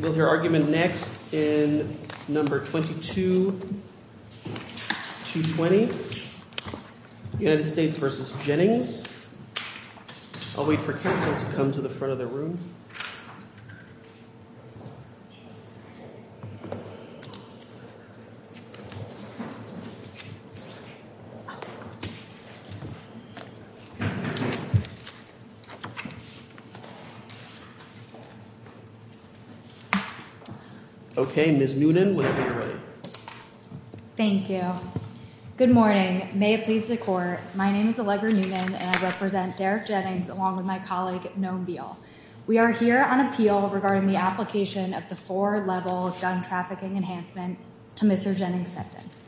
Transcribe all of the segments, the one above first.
We'll hear argument next in No. 22-220, United States v. Jennings. I'll wait for counsel to come to the front of the room. Okay, Ms. Noonan, whenever you're ready. Thank you. Good morning. May it please the Court, my name is Allegra Noonan and I represent Derek Jennings along with my colleague Noam Beall. We are here on appeal regarding the application of the four-level gun trafficking enhancement to Mr. Jennings' sentence.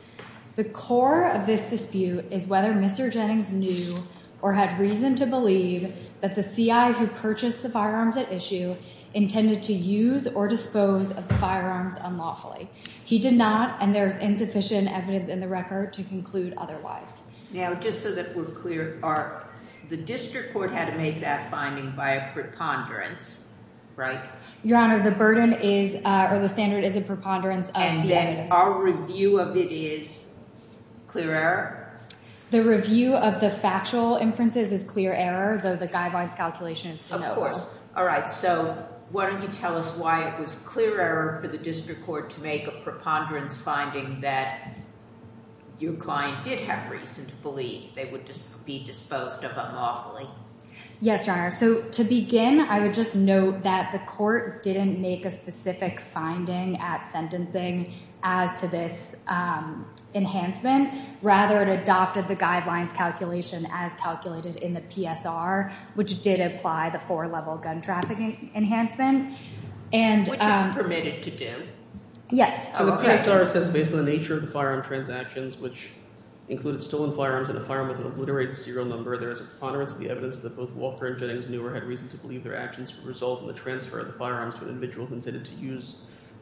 The core of this dispute is whether Mr. Jennings knew or had reason to believe that the CI who purchased the firearms at issue intended to use or dispose of the firearms unlawfully. He did not, and there is insufficient evidence in the record to conclude otherwise. Now, just so that we're clear, the district court had to make that finding by a preponderance, right? Your Honor, the burden is, or the standard is a preponderance of the evidence. Our review of it is clear error? The review of the factual inferences is clear error, though the guidelines calculation is to no avail. Of course. All right, so why don't you tell us why it was clear error for the district court to make a preponderance finding that your client did have reason to believe they would be disposed of unlawfully? Yes, Your Honor. So to begin, I would just note that the court didn't make a specific finding at sentencing as to this enhancement. Rather, it adopted the guidelines calculation as calculated in the PSR, which did apply the four-level gun trafficking enhancement. The PSR says, based on the nature of the firearm transactions, which included stolen firearms and a firearm with an obliterated serial number, there is a preponderance of the evidence that both Walker and Jennings knew or had reason to believe their actions would result in the transfer of the firearms to an individual who intended to use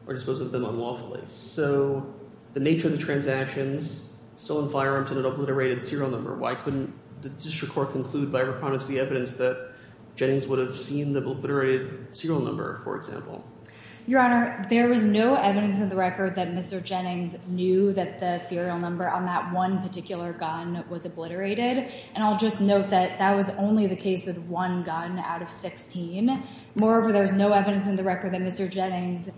or dispose of them unlawfully. So, the nature of the transactions, stolen firearms and an obliterated serial number, why couldn't the district court conclude by a preponderance of the evidence that Jennings would have seen the obliterated serial number, for example? Your Honor, there is no evidence in the record that Mr. Jennings knew that the serial number on that one particular gun was obliterated. And I'll just note that that was only the case with one gun out of 16. Moreover, there's no evidence in the record that Mr. Jennings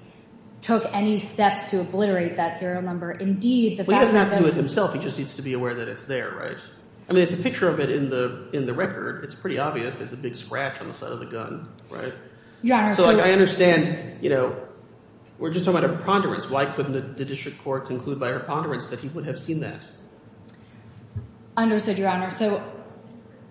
took any steps to obliterate that serial number. Indeed, the fact that… Well, he doesn't have to do it himself. He just needs to be aware that it's there, right? I mean there's a picture of it in the record. It's pretty obvious. There's a big scratch on the side of the gun, right? Your Honor, so… We're just talking about a preponderance. Why couldn't the district court conclude by a preponderance that he would have seen that? Understood, Your Honor. So,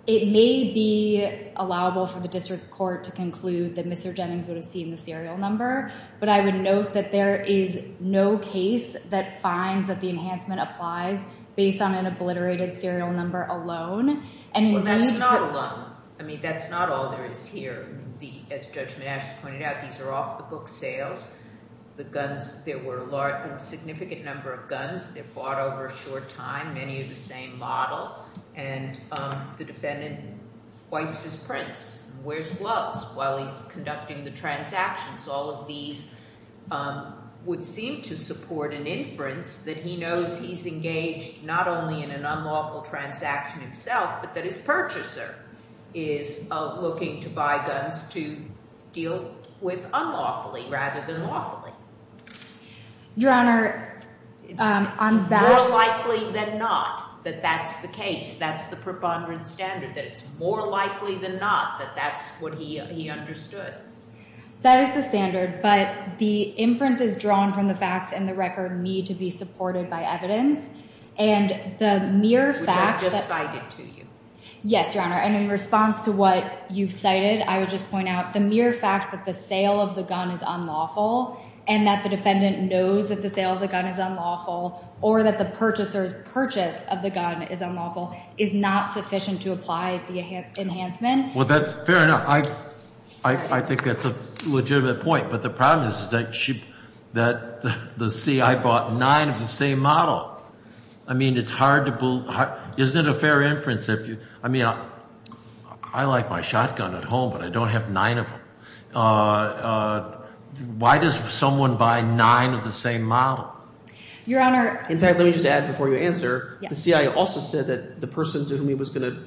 it may be allowable for the district court to conclude that Mr. Jennings would have seen the serial number. But I would note that there is no case that finds that the enhancement applies based on an obliterated serial number alone. Well, that's not alone. I mean that's not all there is here. As Judge Menasche pointed out, these are off-the-book sales. The guns – there were a significant number of guns. They're bought over a short time, many of the same model. And the defendant wipes his prints, wears gloves while he's conducting the transactions. All of these would seem to support an inference that he knows he's engaged not only in an unlawful transaction himself but that his purchaser is looking to buy guns to deal with unlawfully rather than lawfully. Your Honor, on that… It's more likely than not that that's the case. That's the preponderance standard, that it's more likely than not that that's what he understood. That is the standard. But the inferences drawn from the facts in the record need to be supported by evidence. And the mere fact that… Which I just cited to you. Yes, Your Honor. And in response to what you've cited, I would just point out the mere fact that the sale of the gun is unlawful and that the defendant knows that the sale of the gun is unlawful or that the purchaser's purchase of the gun is unlawful is not sufficient to apply the enhancement. Well, that's fair enough. I think that's a legitimate point. But the problem is that the CI bought nine of the same model. I mean, it's hard to… Isn't it a fair inference if you… I mean, I like my shotgun at home, but I don't have nine of them. Why does someone buy nine of the same model? Your Honor… In fact, let me just add before you answer. The CI also said that the person to whom he was going to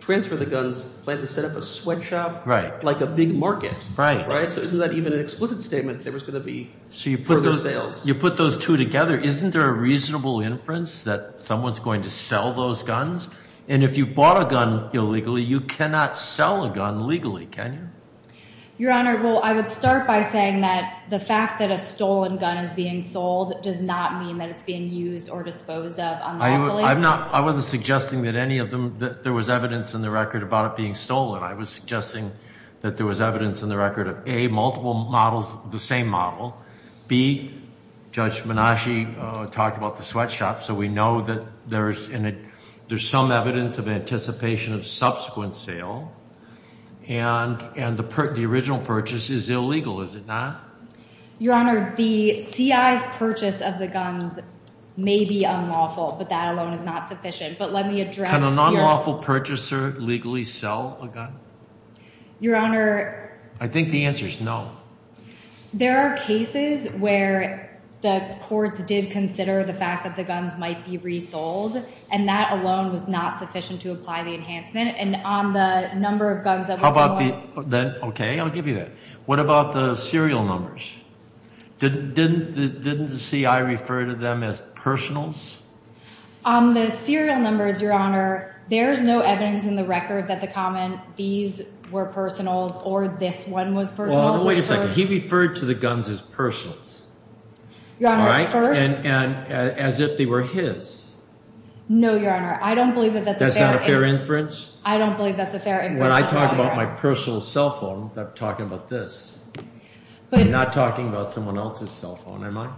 transfer the guns planned to set up a sweatshop like a big market. Right. So isn't that even an explicit statement there was going to be further sales? So you put those two together. Isn't there a reasonable inference that someone's going to sell those guns? And if you bought a gun illegally, you cannot sell a gun legally, can you? Your Honor, well, I would start by saying that the fact that a stolen gun is being sold does not mean that it's being used or disposed of unlawfully. I'm not… I wasn't suggesting that any of them… that there was evidence in the record about it being stolen. I was suggesting that there was evidence in the record of, A, multiple models of the same model. B, Judge Menashe talked about the sweatshop, so we know that there's some evidence of anticipation of subsequent sale. And the original purchase is illegal, is it not? Your Honor, the CI's purchase of the guns may be unlawful, but that alone is not sufficient. But let me address… Can an unlawful purchaser legally sell a gun? Your Honor… I think the answer is no. There are cases where the courts did consider the fact that the guns might be resold, and that alone was not sufficient to apply the enhancement. And on the number of guns that were sold… Okay, I'll give you that. What about the serial numbers? Didn't the CI refer to them as personals? The serial numbers, Your Honor, there's no evidence in the record that the comment, these were personals or this one was personal. Well, wait a second. He referred to the guns as personals. Your Honor, first… And as if they were his. No, Your Honor, I don't believe that that's a fair… That's not a fair inference? I don't believe that's a fair inference. When I talk about my personal cell phone, I'm talking about this. I'm not talking about someone else's cell phone, am I?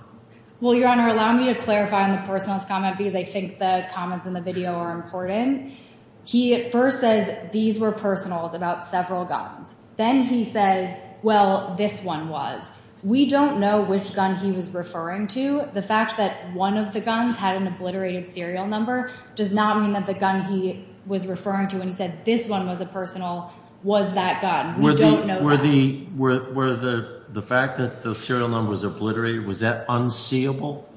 Well, Your Honor, allow me to clarify on the personals comment because I think the comments in the video are important. He at first says these were personals about several guns. Then he says, well, this one was. We don't know which gun he was referring to. The fact that one of the guns had an obliterated serial number does not mean that the gun he was referring to when he said this one was a personal was that gun. We don't know that. Were the fact that the serial number was obliterated, was that unseeable?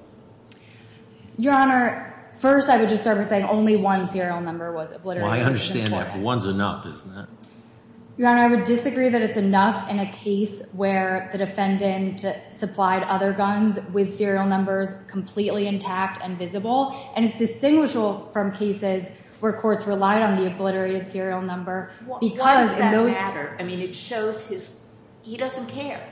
Your Honor, first I would just start by saying only one serial number was obliterated. Well, I understand that, but one's enough, isn't it? Your Honor, I would disagree that it's enough in a case where the defendant supplied other guns with serial numbers completely intact and visible. And it's distinguishable from cases where courts relied on the obliterated serial number because in those… Why does that matter? I mean, it shows his – he doesn't care.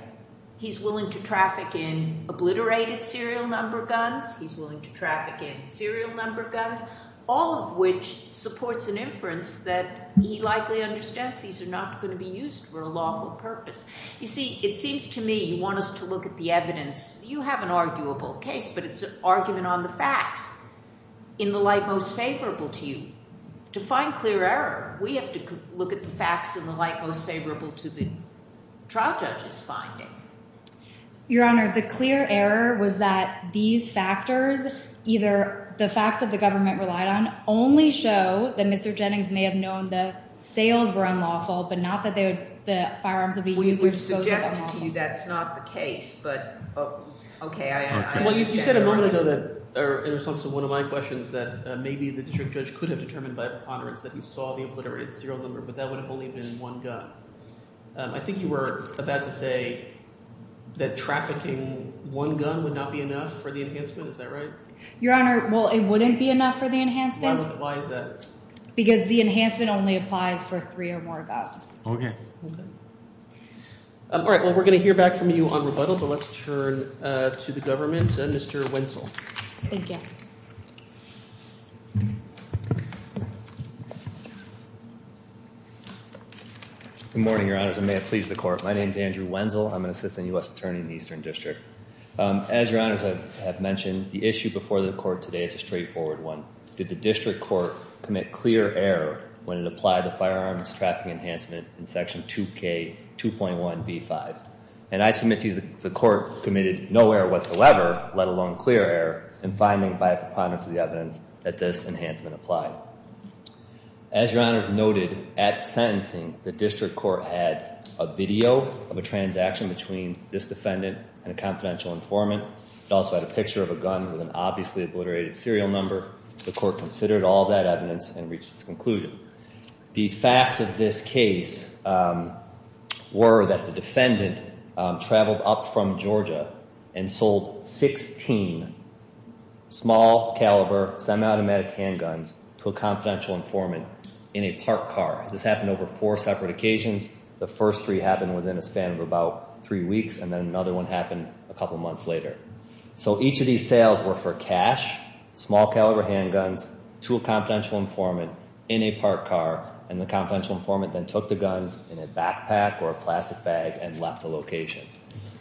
He's willing to traffic in obliterated serial number guns. He's willing to traffic in serial number guns, all of which supports an inference that he likely understands these are not going to be used for a lawful purpose. You see, it seems to me you want us to look at the evidence. You have an arguable case, but it's an argument on the facts in the light most favorable to you. To find clear error, we have to look at the facts in the light most favorable to the trial judge's finding. Your Honor, the clear error was that these factors, either the facts that the government relied on only show that Mr. Jennings may have known the sales were unlawful but not that they would – the firearms would be used or disposed of unlawfully. We've suggested to you that's not the case, but – okay. Well, you said a moment ago that – or in response to one of my questions that maybe the district judge could have determined by preponderance that he saw the obliterated serial number, but that would have only been one gun. I think you were about to say that trafficking one gun would not be enough for the enhancement. Is that right? Your Honor, well, it wouldn't be enough for the enhancement. Why is that? Because the enhancement only applies for three or more guns. Okay. All right. Well, we're going to hear back from you on rebuttal, but let's turn to the government. Mr. Wenzel. Thank you. Good morning, Your Honors, and may it please the Court. My name is Andrew Wenzel. I'm an assistant U.S. attorney in the Eastern District. As Your Honors have mentioned, the issue before the Court today is a straightforward one. Did the district court commit clear error when it applied the firearms trafficking enhancement in Section 2K2.1b5? And I submit to you the court committed no error whatsoever, let alone clear error, in finding by a preponderance of the evidence that this enhancement applied. As Your Honors noted, at sentencing, the district court had a video of a transaction between this defendant and a confidential informant. It also had a picture of a gun with an obviously obliterated serial number. The court considered all that evidence and reached its conclusion. The facts of this case were that the defendant traveled up from Georgia and sold 16 small caliber semi-automatic handguns to a confidential informant in a parked car. This happened over four separate occasions. The first three happened within a span of about three weeks, and then another one happened a couple months later. So each of these sales were for cash, small caliber handguns, to a confidential informant in a parked car, and the confidential informant then took the guns in a backpack or a plastic bag and left the location.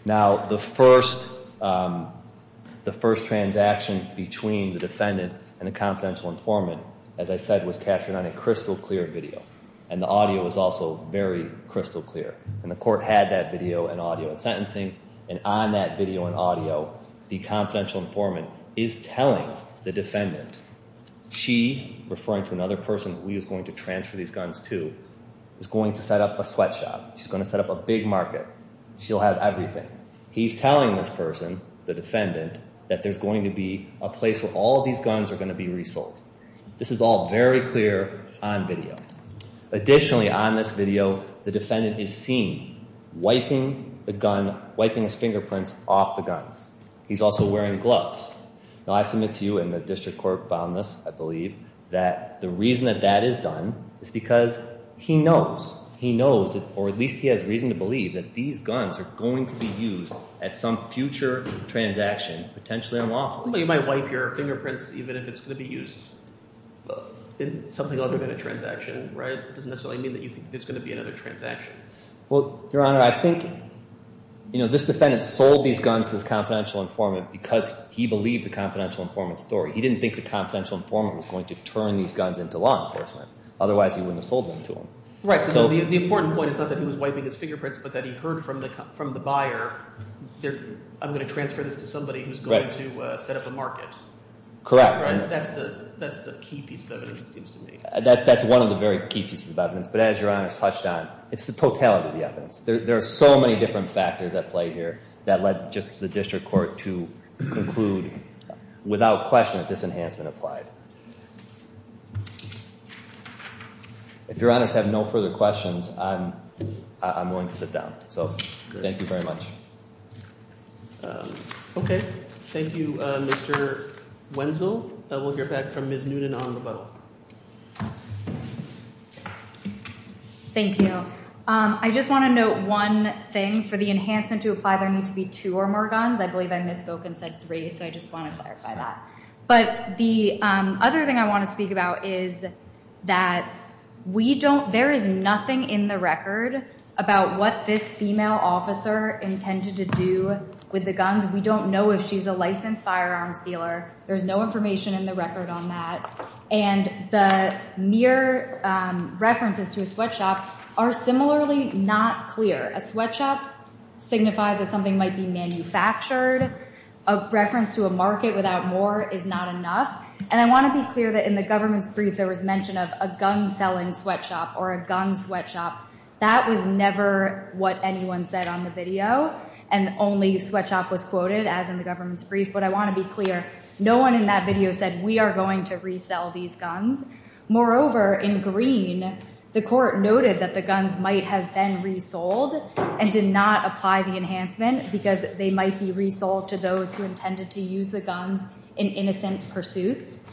Now, the first transaction between the defendant and the confidential informant, as I said, was captured on a crystal clear video. And the audio was also very crystal clear. And the court had that video and audio at sentencing, and on that video and audio, the confidential informant is telling the defendant, she, referring to another person that we was going to transfer these guns to, is going to set up a sweatshop. She's going to set up a big market. She'll have everything. He's telling this person, the defendant, that there's going to be a place where all these guns are going to be resold. This is all very clear on video. Additionally, on this video, the defendant is seen wiping the gun, wiping his fingerprints off the guns. He's also wearing gloves. Now, I submit to you and the district court found this, I believe, that the reason that that is done is because he knows. He knows, or at least he has reason to believe, that these guns are going to be used at some future transaction, potentially unlawful. You might wipe your fingerprints even if it's going to be used in something other than a transaction, right? It doesn't necessarily mean that you think there's going to be another transaction. Well, Your Honor, I think this defendant sold these guns to this confidential informant because he believed the confidential informant's story. He didn't think the confidential informant was going to turn these guns into law enforcement. Otherwise, he wouldn't have sold them to him. Right, so the important point is not that he was wiping his fingerprints but that he heard from the buyer, I'm going to transfer this to somebody who's going to set up a market. Correct. That's the key piece of evidence, it seems to me. That's one of the very key pieces of evidence, but as Your Honor's touched on, it's the totality of the evidence. There are so many different factors at play here that led just the district court to conclude without question that this enhancement applied. If Your Honors have no further questions, I'm willing to sit down. So thank you very much. Okay. Thank you, Mr. Wenzel. We'll hear back from Ms. Noonan on rebuttal. Thank you. I just want to note one thing. For the enhancement to apply, there need to be two or more guns. I believe I misspoke and said three, so I just want to clarify that. But the other thing I want to speak about is that there is nothing in the record about what this female officer intended to do with the guns. We don't know if she's a licensed firearms dealer. There's no information in the record on that. And the mere references to a sweatshop are similarly not clear. A sweatshop signifies that something might be manufactured. A reference to a market without more is not enough. And I want to be clear that in the government's brief, there was mention of a gun-selling sweatshop or a gun sweatshop. That was never what anyone said on the video, and only sweatshop was quoted, as in the government's brief. But I want to be clear, no one in that video said, we are going to resell these guns. Moreover, in green, the court noted that the guns might have been resold and did not apply the enhancement, because they might be resold to those who intended to use the guns in innocent pursuits.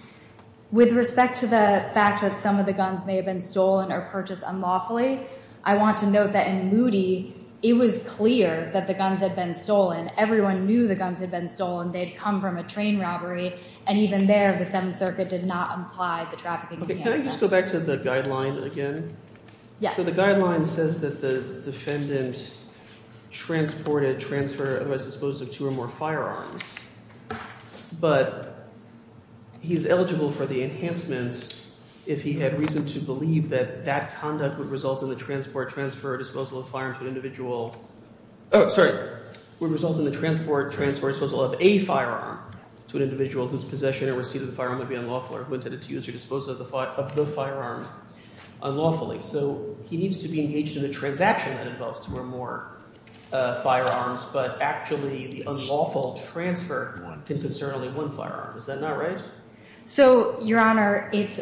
With respect to the fact that some of the guns may have been stolen or purchased unlawfully, I want to note that in moody, it was clear that the guns had been stolen. Everyone knew the guns had been stolen. They had come from a train robbery, and even there, the Seventh Circuit did not apply the trafficking enhancement. Can I just go back to the guideline again? Yes. So the guideline says that the defendant transported, transferred, otherwise disposed of two or more firearms, but he's eligible for the enhancement if he had reason to believe that that conduct would result in the transport, transfer, or disposal of a firearm to an individual whose possession or receipt of the firearm would be unlawful or who intended to use or dispose of the firearm unlawfully. So he needs to be engaged in a transaction that involves two or more firearms, but actually the unlawful transfer can concern only one firearm. Is that not right? So, Your Honor, it's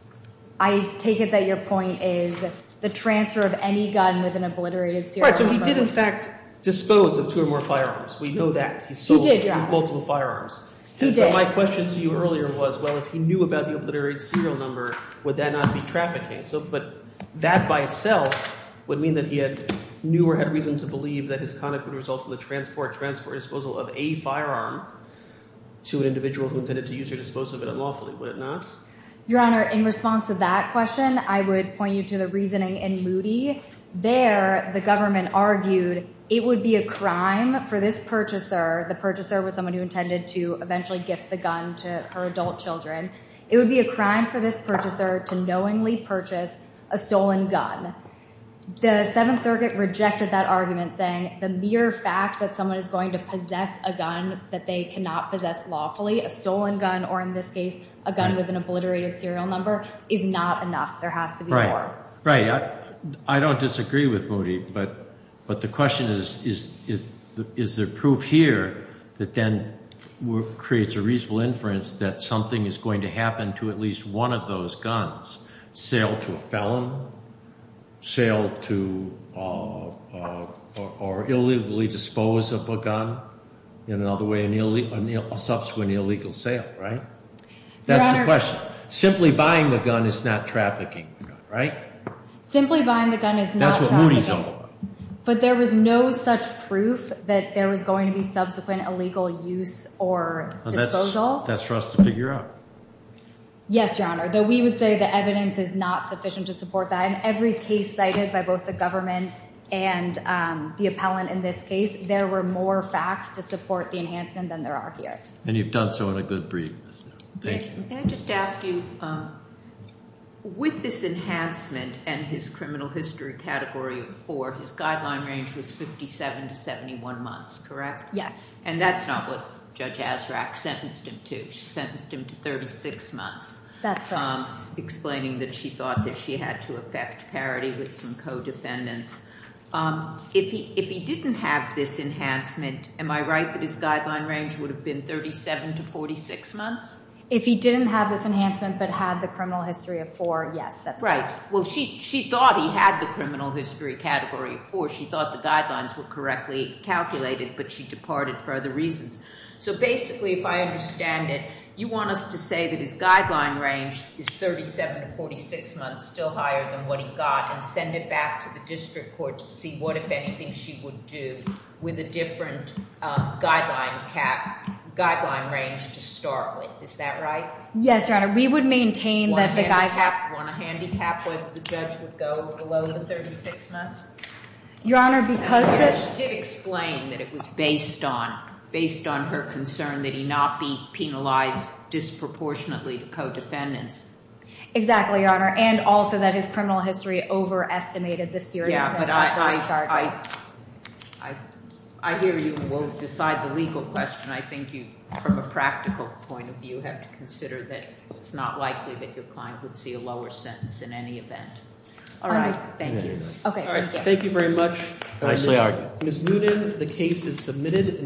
– I take it that your point is the transfer of any gun with an obliterated serial number. Right, so he did, in fact, dispose of two or more firearms. We know that. He did, Your Honor. He sold multiple firearms. He did. So my question to you earlier was, well, if he knew about the obliterated serial number, would that not be trafficking? But that by itself would mean that he knew or had reason to believe that his conduct would result in the transport, transport, or disposal of a firearm to an individual who intended to use or dispose of it unlawfully. Would it not? Your Honor, in response to that question, I would point you to the reasoning in Moody. There the government argued it would be a crime for this purchaser, the purchaser was someone who intended to eventually gift the gun to her adult children, it would be a crime for this purchaser to knowingly purchase a stolen gun. The Seventh Circuit rejected that argument, saying the mere fact that someone is going to possess a gun that they cannot possess lawfully, a stolen gun or, in this case, a gun with an obliterated serial number, is not enough. There has to be more. Right. I don't disagree with Moody, but the question is, is there proof here that then creates a reasonable inference that something is going to happen to at least one of those guns, sale to a felon, sale to or illegally dispose of a gun, in another way, a subsequent illegal sale, right? Your Honor. Simply buying the gun is not trafficking, right? Simply buying the gun is not trafficking. That's what Moody's all about. But there was no such proof that there was going to be subsequent illegal use or disposal. That's for us to figure out. Yes, Your Honor. Though we would say the evidence is not sufficient to support that. In every case cited by both the government and the appellant in this case, there were more facts to support the enhancement than there are here. And you've done so in a good brief. Thank you. May I just ask you, with this enhancement and his criminal history category of four, his guideline range was 57 to 71 months, correct? Yes. And that's not what Judge Azraq sentenced him to. She sentenced him to 36 months. That's correct. Explaining that she thought that she had to affect parity with some co-defendants. If he didn't have this enhancement, am I right that his guideline range would have been 37 to 46 months? If he didn't have this enhancement but had the criminal history of four, yes, that's correct. Right. Well, she thought he had the criminal history category of four. She thought the guidelines were correctly calculated, but she departed for other reasons. So basically, if I understand it, you want us to say that his guideline range is 37 to 46 months, still higher than what he got, and send it back to the district court to see what, if anything, she would do with a different guideline cap, guideline range to start with. Is that right? Yes, Your Honor. We would maintain that the guideline. Want a handicap where the judge would go below the 36 months? Your Honor, because the – Well, she did explain that it was based on her concern that he not be penalized disproportionately to co-defendants. Exactly, Your Honor, and also that his criminal history overestimated the seriousness of those charges. I hear you, and we'll decide the legal question. I think you, from a practical point of view, have to consider that it's not likely that your client would see a lower sentence in any event. All right. Thank you. Okay, thank you. Thank you very much. Nicely argued. Ms. Noonan, the case is submitted.